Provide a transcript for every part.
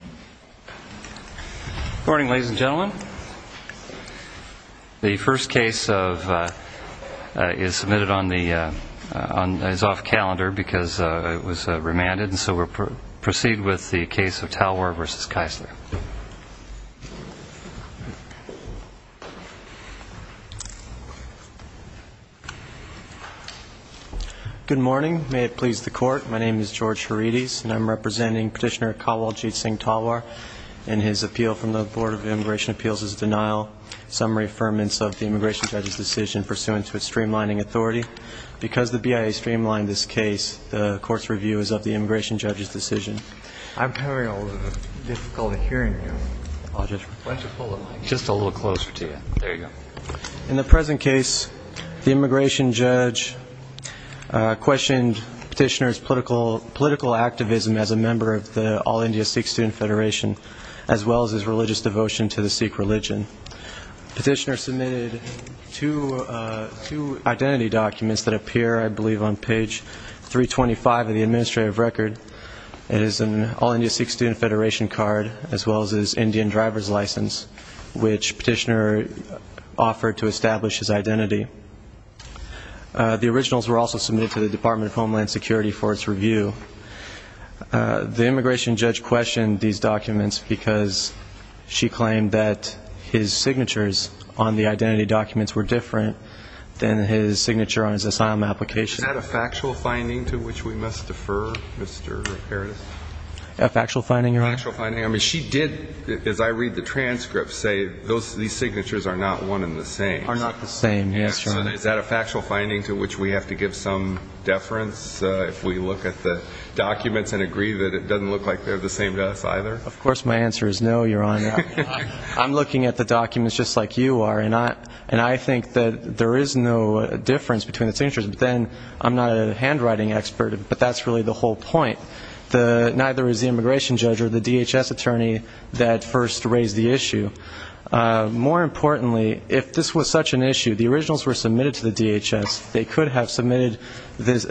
Good morning. May it please the Court, my name is George Harides and I'm representing Petitioner Kawaljit Singh Talwar and his appeal from the Board of Immigration Appeals is denial, summary affirmance of the Immigration Judge's decision pursuant to its streamlining authority. Because the BIA streamlined this case, the Court's review is of the Immigration Judge's decision. In the present case, the Immigration Judge questioned Petitioner's political activism as a member of the All-India Sikh Student Federation as well as his religious devotion to the Sikh religion. Petitioner submitted two identity documents that appear, I believe, on page 325 of the administrative record. It is an All-India Sikh Student Federation card as well as his Indian driver's license, which Petitioner offered to establish his identity. The originals were also submitted to the Department of Homeland Security for its review. The Immigration Judge questioned these documents because she claimed that his signatures on the identity documents were different than his signature on his asylum application. Is that a factual finding to which we must defer, Mr. Harides? A factual finding, Your Honor? A factual finding. I mean, she did, as I read the transcript, say these signatures are not one and the same. Are not the same, yes, Your Honor. Is that a factual finding to which we have to give some deference if we look at the documents and agree that it doesn't look like they're the same to us either? Of course my answer is no, Your Honor. I'm looking at the documents just like you are, and I think that there is no difference between the signatures. But then, I'm not a handwriting expert, but that's really the whole point. Neither is the Immigration Judge or the DHS attorney that first raised the issue. More importantly, if this was such an issue, the DHS attorney could have submitted to the DHS, they could have submitted this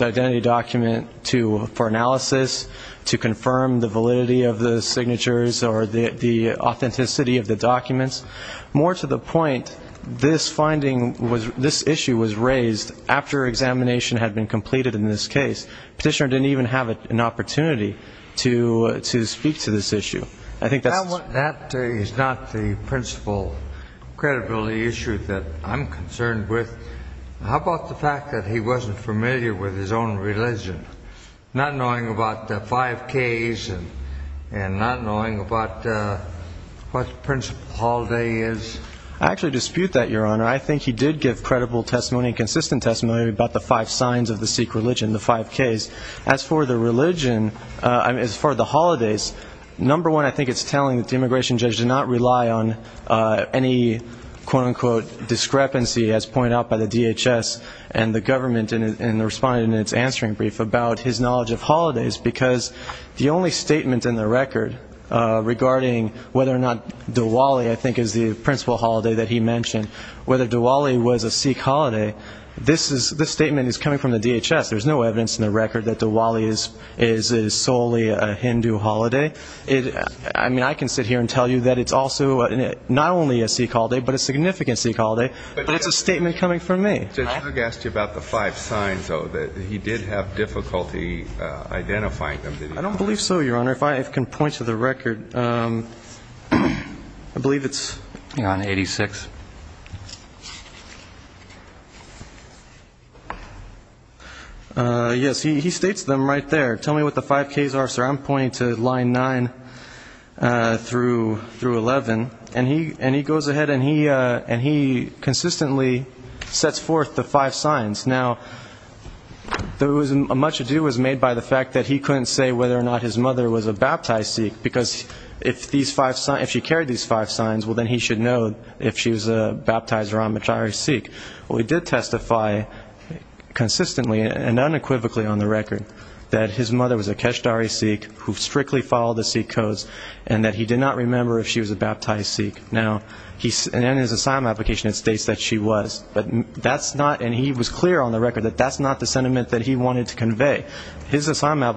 identity document for analysis to confirm the validity of the signatures or the authenticity of the documents. More to the point, this finding, this issue was raised after examination had been completed in this case. The Petitioner didn't even have an opportunity to speak to this issue. That is not the principal credibility issue that I'm concerned with. How about the fact that he wasn't familiar with his own religion, not knowing about the five Ks and not knowing about what the principal holiday is? I actually dispute that, Your Honor. I think he did give credible testimony and consistent testimony about the five signs of the Sikh religion, the five Ks. As for the religion, as for the holidays, number one, I think it's telling that the Immigration Judge did not rely on any, quote-unquote, discrepancy, as pointed out by the DHS and the government in responding to its answering brief, about his knowledge of holidays. Because the only statement in the record regarding whether or not Diwali, I think, is the principal holiday that he mentioned, whether Diwali was a Sikh holiday, this statement is coming from the DHS is solely a Hindu holiday. I mean, I can sit here and tell you that it's also not only a Sikh holiday, but a significant Sikh holiday, but it's a statement coming from me. The judge asked you about the five signs, though, that he did have difficulty identifying them, did he not? I don't believe so, Your Honor. If I can point to the record, I believe it's on 86. Yes, he states them right there. Tell me what the five Ks are, sir. I'm pointing to line 9 through 11. And he goes ahead and he consistently sets forth the five signs. Now, much ado was made by the fact that he couldn't say whether or not his mother was a baptized Sikh, because if she carried these five signs, well, then he should know if she was a baptized Ramachari Sikh. Well, he did testify consistently and unequivocally on the record that his mother was a Kashtari Sikh who strictly followed the Sikh codes, and that he did not remember if she was a baptized Sikh. Now, in his assignment application, it states that she was. And he was clear on the record that that's not the sentiment that he wanted to convey. His assignment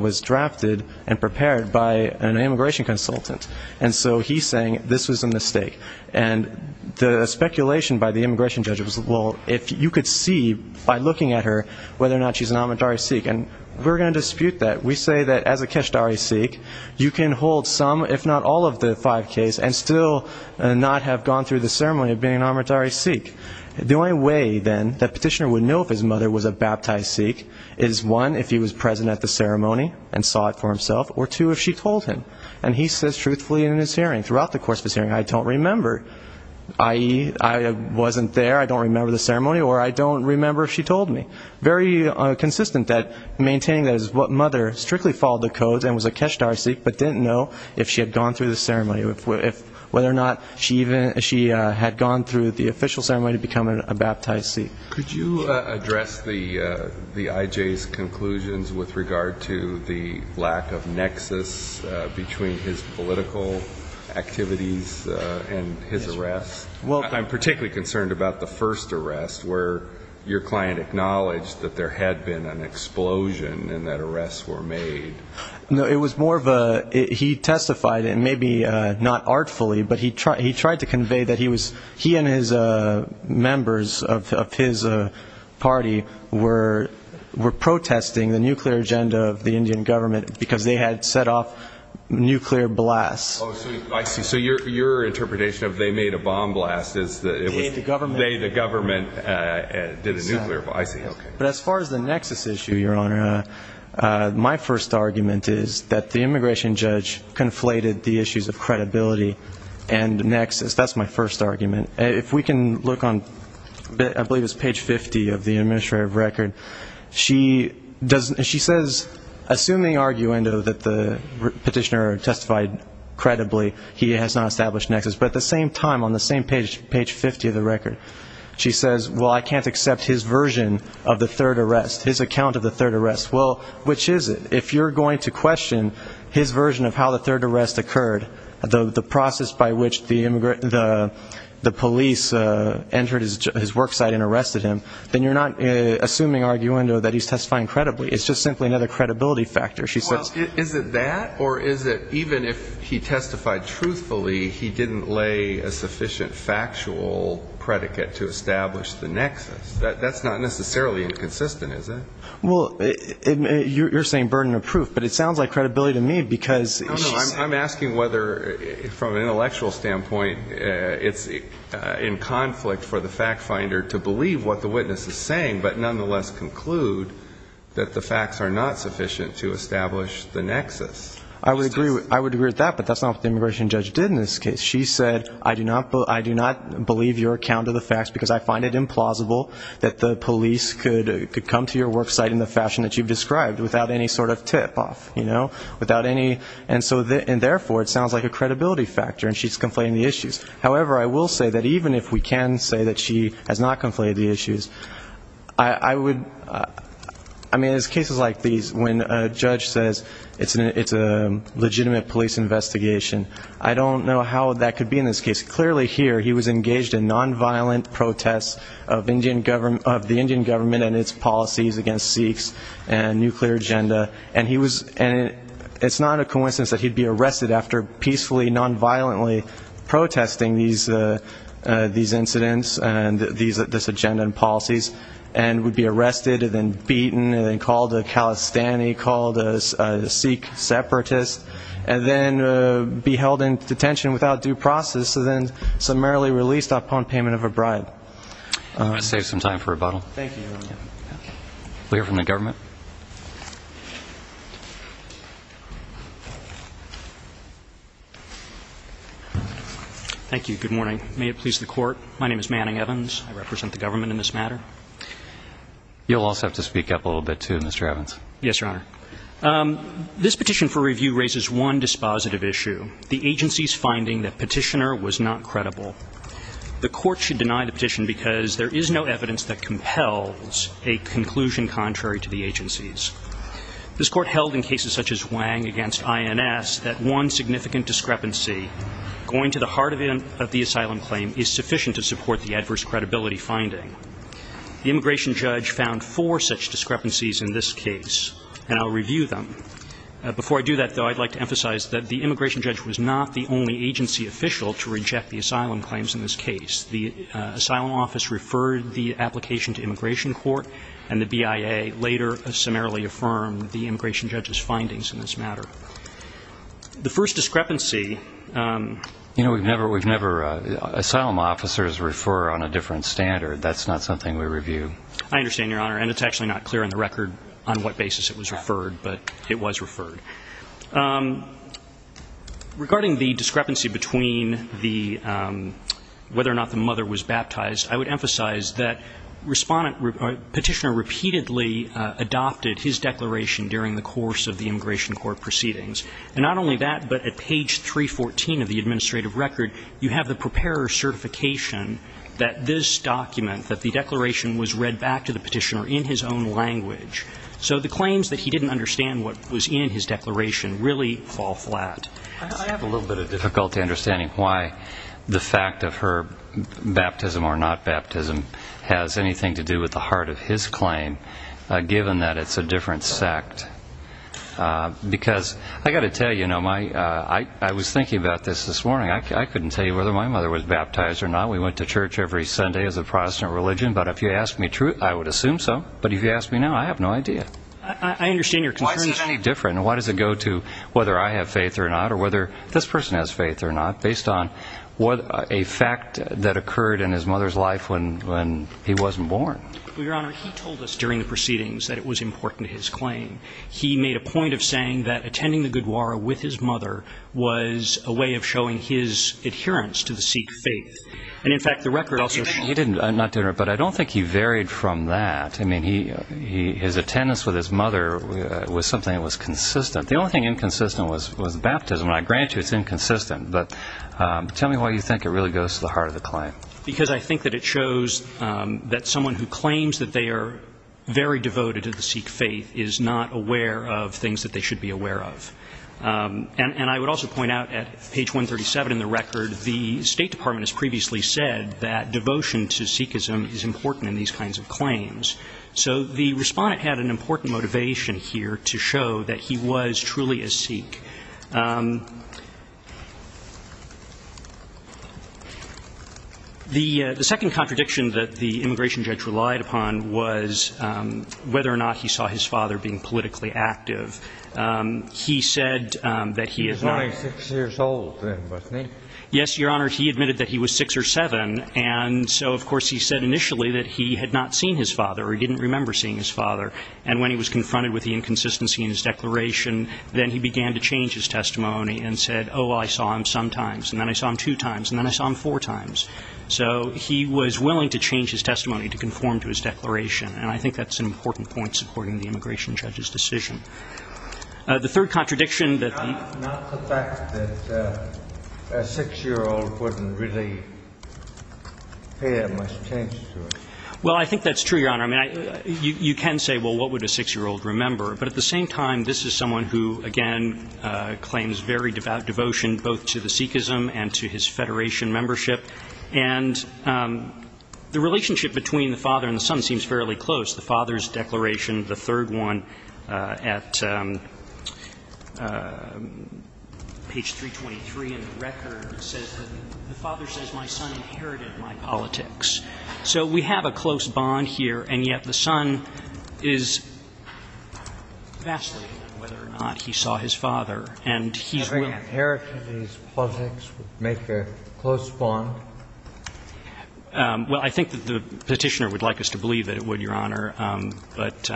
was drafted and prepared by an immigration consultant. And so he's saying this was a mistake. And the speculation by the immigration judge was, well, if you could see by looking at her whether or not she's an Amritdhari Sikh. And we're going to dispute that. We say that as a Kashtari Sikh, you can hold some if not all of the five Ks and still not have gone through the ceremony of being an Amritdhari Sikh. The only way, then, that petitioner would know if his mother was a baptized Sikh is, one, if he was present at the ceremony and saw it for himself, or two, if she told him. And he says truthfully in his hearing, throughout the course of his hearing, I don't remember, i.e., I wasn't there, I don't remember the ceremony, or I don't remember if she told me. Very consistent that maintaining that his mother strictly followed the codes and was a Kashtari Sikh but didn't know if she had gone through the ceremony, whether or not she had gone through the official ceremony of becoming a baptized Sikh. Could you address the IJ's conclusions with regard to the lack of nexus between his political activities and his arrest? I'm particularly concerned about the first arrest where your client acknowledged that there had been an explosion and that arrests were made. No, it was more of a, he testified, and maybe not artfully, but he tried to convey that he was, he and his members of his party were protesting the nuclear agenda of the Indian government because they had set off nuclear blasts. Oh, I see. So your interpretation of they made a bomb blast is that it was... They, the government. They, the government did a nuclear, I see, okay. But as far as the nexus issue, Your Honor, my first argument is that the immigration judge conflated the issues of credibility and nexus. That's my first argument. If we can look on, I believe it's page 50 of the administrative record, she says, assuming arguendo that the petitioner testified credibly, he has not established nexus. But at the same time, on the same page, page 50 of the record, she says, well, I can't accept his version of the third arrest, his account of the third arrest. Well, which is it? If you're going to question his version of how the third arrest occurred, the process by which the police entered his worksite and arrested him, then you're not assuming arguendo that he's testifying credibly. It's just simply another credibility factor, she says. Well, is it that? Or is it even if he testified truthfully, he didn't lay a sufficient factual predicate to establish the nexus? That's not necessarily inconsistent, is it? Well, you're saying burden of proof, but it sounds like credibility to me, because she says No, no, I'm asking whether, from an intellectual standpoint, it's in conflict for the fact finder to believe what the witness is saying, but nonetheless conclude that the facts are not sufficient to establish the nexus. I would agree with that, but that's not what the immigration judge did in this case. She said, I do not believe your account of the facts, because I find it implausible that the police could come to your worksite in the fashion that you've described, without any sort of tip-off, you know? Without any, and so therefore, it sounds like a credibility factor, and she's conflating the issues. However, I will say that even if we can say that she has not conflated the issues, I would I mean, in cases like these, when a judge says it's a legitimate police investigation, I don't know how that could be in this case. Clearly here, he was engaged in nonviolent protests of the Indian government and its policies against Sikhs and nuclear agenda, and it's not a coincidence that he'd be arrested after peacefully, nonviolently protesting these incidents and this agenda and policies, and would be arrested and then beaten and then called a Khalistani, called a Sikh separatist, and then be held in detention without due process, and then summarily released upon payment of a bribe. I'm going to save some time for rebuttal. Thank you, Your Honor. We'll hear from the government. Thank you. Good morning. May it please the Court, my name is Manning Evans. I represent the government in this matter. You'll also have to speak up a little bit, too, Mr. Evans. Yes, Your Honor. This petition for review raises one dispositive issue, the agency's finding that petitioner was not credible. The Court should deny the petition because there is no evidence that compels a conclusion contrary to the agency's. This Court held in cases such as Wang against INS that one significant discrepancy going to the heart of the asylum claim is sufficient to support the adverse credibility finding. The immigration judge found four such discrepancies in this case, and I'll review them. Before I do that, though, I'd like to emphasize that the immigration judge was not the only agency official to reject the asylum claims in this case. The Asylum Office referred the application to Immigration Court, and the BIA later summarily affirmed the immigration judge's findings in this matter. The first discrepancy... You know, we've never, we've never, asylum officers refer on a different standard. That's not something we review. I understand, Your Honor, and it's actually not clear on the record on what basis it was referred. Regarding the discrepancy between the, whether or not the mother was baptized, I would emphasize that Respondent, Petitioner repeatedly adopted his declaration during the course of the Immigration Court proceedings. And not only that, but at page 314 of the administrative record, you have the preparer's certification that this document, that the declaration was read back to the Petitioner in his own language. So the claims that he didn't understand what was in his declaration really fall flat. I have a little bit of difficulty understanding why the fact of her baptism or not baptism has anything to do with the heart of his claim, given that it's a different sect. Because I've got to tell you, you know, my, I was thinking about this this morning. I couldn't tell you whether my mother was baptized or not. We went to church every Sunday as a Protestant religion, but if you ask me, I would assume so. But if you ask me now, I have no idea. I understand your concern. Why is it any different? And why does it go to whether I have faith or not or whether this person has faith or not, based on what, a fact that occurred in his mother's life when, when he wasn't born? Well, Your Honor, he told us during the proceedings that it was important to his claim. He made a point of saying that attending the Gurdwara with his mother was a way of showing his adherence to the Sikh faith. And in fact, the record also He didn't, but I don't think he varied from that. I mean, he, his attendance with his mother was something that was consistent. The only thing inconsistent was, was baptism. And I grant you it's inconsistent, but tell me why you think it really goes to the heart of the claim. Because I think that it shows that someone who claims that they are very devoted to the Sikh faith is not aware of things that they should be aware of. And I would also point out at page 137 in the record, the State Department has previously said that devotion to Sikhism is important in these kinds of claims. So the Respondent had an important motivation here to show that he was truly a Sikh. The second contradiction that the immigration judge relied upon was whether or not he saw his father being politically active. He said that he is not He was only six years old then, wasn't he? Yes, Your Honor. He admitted that he was six or seven. And so, of course, he said initially that he had not seen his father or he didn't remember seeing his father. And when he was confronted with the inconsistency in his declaration, then he began to change his testimony and said, oh, well, I saw him sometimes, and then I saw him two times, and then I saw him four times. So he was willing to change his testimony to conform to his declaration. And I think that's an important point supporting the immigration judge's decision. The third contradiction that Not the fact that a six-year-old wouldn't really pay much attention to it. Well, I think that's true, Your Honor. I mean, you can say, well, what would a six-year-old remember? But at the same time, this is someone who, again, claims very devout devotion both to the Sikhism and to his Federation membership. And the relationship between the father and the son seems fairly close. The father's declaration, the third one at page 323 in the record, says that the father says my son inherited my politics. So we have a close bond here, and yet the son is vacillating on whether or not he saw his father. And he's willing to change his testimony to conform to his declaration. I think inheriting his politics would make a close bond. Well, I think that the Petitioner would like us to believe that it would, Your Honor. I'm not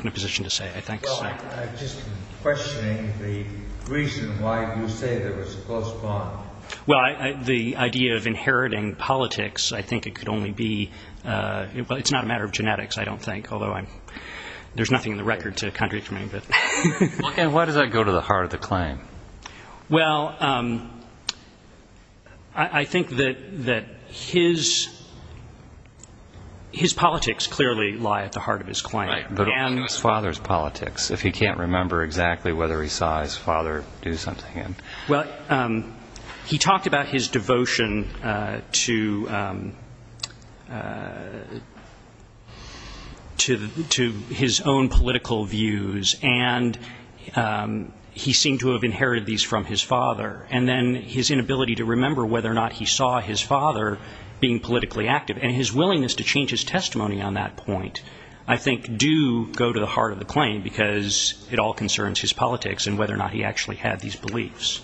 in a position to say. Well, I'm just questioning the reason why you say there was a close bond. Well, the idea of inheriting politics, I think it could only be, well, it's not a matter of genetics, I don't think, although there's nothing in the record to contradict me. Well, I think that his politics clearly lie at the heart of his claim. Right, but only his father's politics, if he can't remember exactly whether he saw his father do something. Well, he talked about his devotion to his own political views, and he seemed to have inherited these from his father. And then his inability to remember whether or not he saw his father being politically active. And his willingness to change his testimony on that point, I think, do go to the heart of the claim, because it all concerns his politics, and whether or not he actually had these beliefs.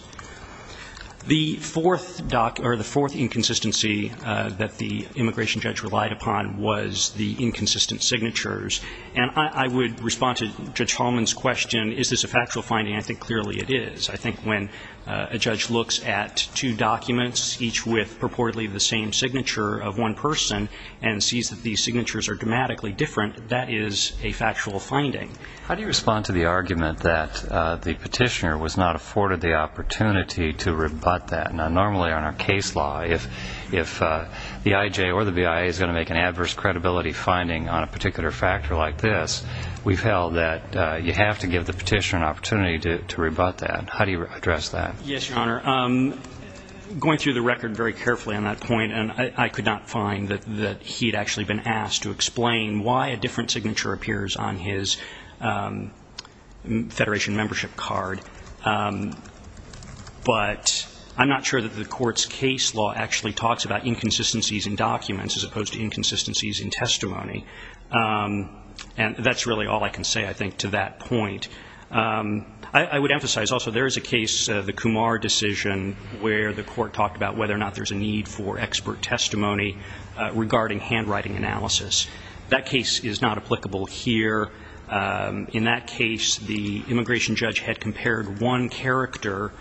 The fourth inconsistency that the immigration judge relied upon was the inconsistent signatures. And I would respond to Judge Holman's question, is this a factual finding? I think clearly it is. I think when a judge looks at two documents, each with purportedly the same signature of one person, and sees that these signatures are dramatically different, that is a factual finding. How do you respond to the argument that the petitioner was not afforded the opportunity to rebut that? Now, normally on our case law, if the IJ or the BIA is going to make an adverse credibility finding on a particular factor like this, we've held that you have to give the petitioner an opportunity to rebut that. How do you address that? Yes, Your Honor. Going through the record very carefully on that point, and I could not find that he'd actually been asked to explain why a different signature appears on his Federation membership card. But I'm not sure that the Court's case law actually talks about inconsistencies in documents as opposed to inconsistencies in testimony. And that's really all I can say, I think, to that point. I would emphasize also there is a case, the Kumar decision, where the Court talked about whether or not there's a need for expert testimony regarding handwriting analysis. That case is not applicable here. In that case, the immigration judge had compared one character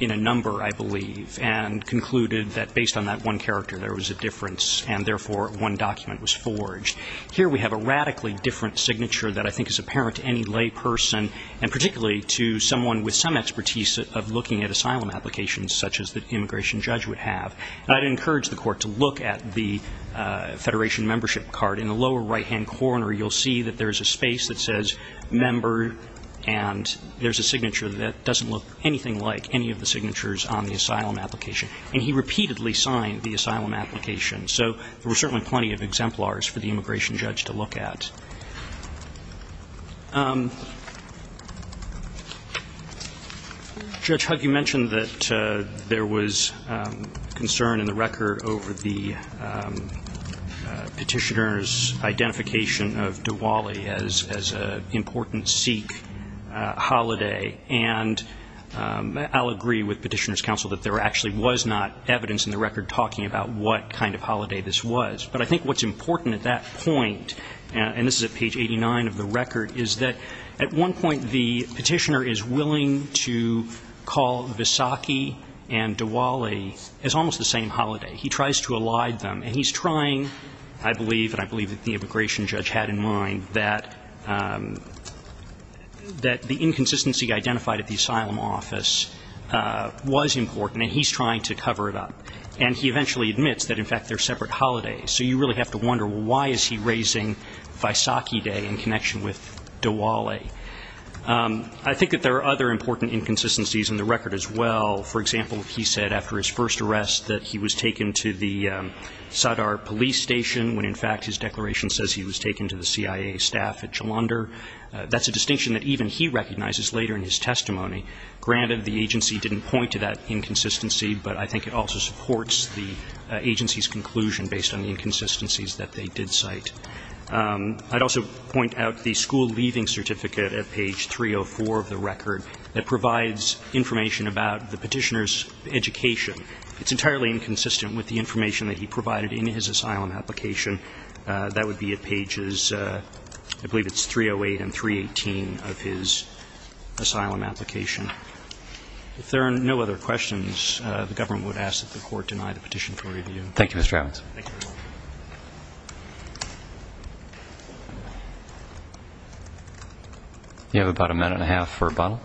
in a number, I believe, and concluded that based on that one character there was a difference, and therefore one document was forged. Here we have a radically different signature that I think is apparent to any layperson, and particularly to someone with some expertise of looking at I'd encourage the Court to look at the Federation membership card. In the lower right-hand corner you'll see that there's a space that says member, and there's a signature that doesn't look anything like any of the signatures on the asylum application. And he repeatedly signed the asylum application. So there were certainly plenty of exemplars for the immigration judge to look at. Judge Hugg, you mentioned that there was concern in the record over the Petitioner's identification of Diwali as an important Sikh holiday. And I'll agree with Petitioner's counsel that there actually was not evidence in the record talking about what kind of holiday this was. But I think what's important at that point, and this is a page 89 of the record, is that at one point the Petitioner is willing to call Vaisakhi and Diwali as almost the same holiday. He tries to elide them. And he's trying I believe, and I believe that the immigration judge had in mind, that the inconsistency identified at the asylum office was important, and he's trying to cover it up. And he eventually admits that in fact they're separate holidays. So you really have to wonder why is he raising Vaisakhi Day in connection with Diwali? I think that there are other important inconsistencies in the record as well. For example, he said after his first arrest that he was taken to the Sadar police station when in fact his declaration says he was taken to the CIA staff at Jalandhar. That's a distinction that even he recognizes later in his testimony. Granted, the agency didn't point to that inconsistency, but I think it also supports the agency's conclusion based on the inconsistencies that they did cite. I'd also point out the school leaving certificate at page 304 of the record that provides information about the Petitioner's education. It's entirely inconsistent with the information that he provided in his asylum application. That would be at pages, I believe it's 308 and 318 of his asylum application. If there are no other questions, the government would ask that the Court deny the record. Mr. Chavins. You have about a minute and a half for rebuttal.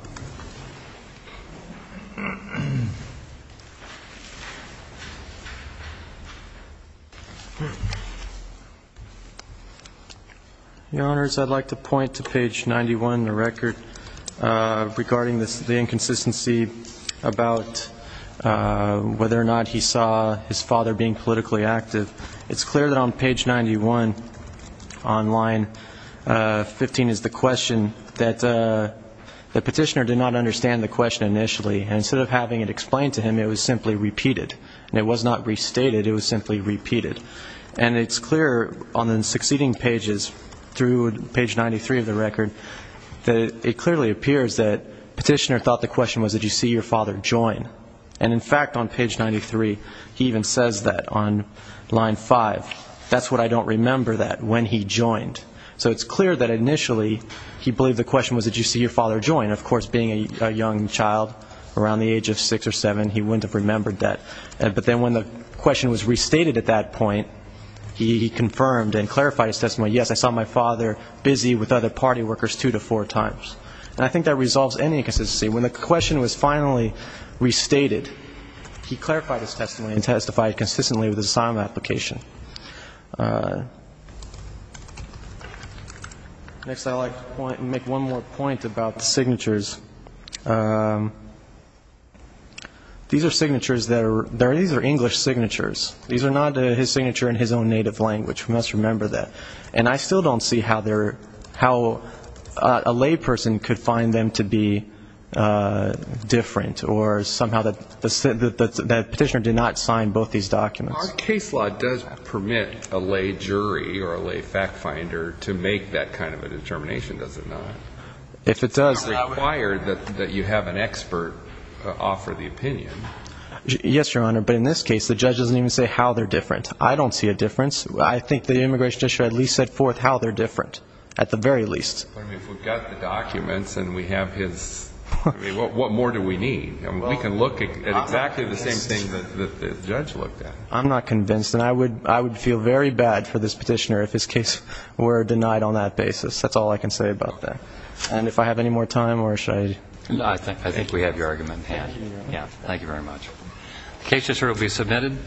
Your Honors, I'd like to point to page 91 of the record regarding the inconsistency about whether or not he saw his father be active. It's clear that on page 91 on line 15 is the question that the Petitioner did not understand the question initially, and instead of having it explained to him, it was simply repeated. And it was not restated, it was simply repeated. And it's clear on the succeeding pages through page 93 of the record that it clearly appears that the Petitioner thought the question was, did you see your father join? And in fact, on page 93, he even says that on line 5, that's what I don't remember that, when he joined. So it's clear that initially he believed the question was, did you see your father join? Of course, being a young child around the age of six or seven, he wouldn't have remembered that. But then when the question was restated at that point, he confirmed and clarified his testimony, yes, I saw my father busy with other party workers two to four times. And I think that resolves any inconsistency. When the question was finally restated, he clarified his testimony and testified consistently with his assignment application. Next I'd like to make one more point about the signatures. These are signatures that are, these are English signatures. These are not his signatures. These are the signatures of the Petitioner. And I'm not saying that the Petitioner did not sign both of these documents. I'm saying that the Petitioner did not sign both of these documents. Our case law does permit a lay jury or a lay fact finder to make that kind of a determination, does it not? If it does. It's not required that you have an expert offer the opinion. Yes, Your Honor. But in this case, the judge doesn't even say how they're different. I don't see a difference. I think the immigration judge should at least set forth how they're different, at the very least. But if we've got the documents and we have his, what more do we need? We can look at exactly the same thing that the judge looked at. I'm not convinced. And I would feel very bad for this Petitioner if his case were denied on that basis. That's all I can say about that. And if I have any more time, or should I? I think we have your argument in hand. Thank you very much. The case is here to be submitted.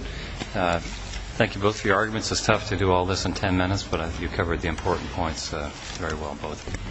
Thank you both for your arguments. It's tough to do all this in ten minutes. But you covered the important points very well, both of you.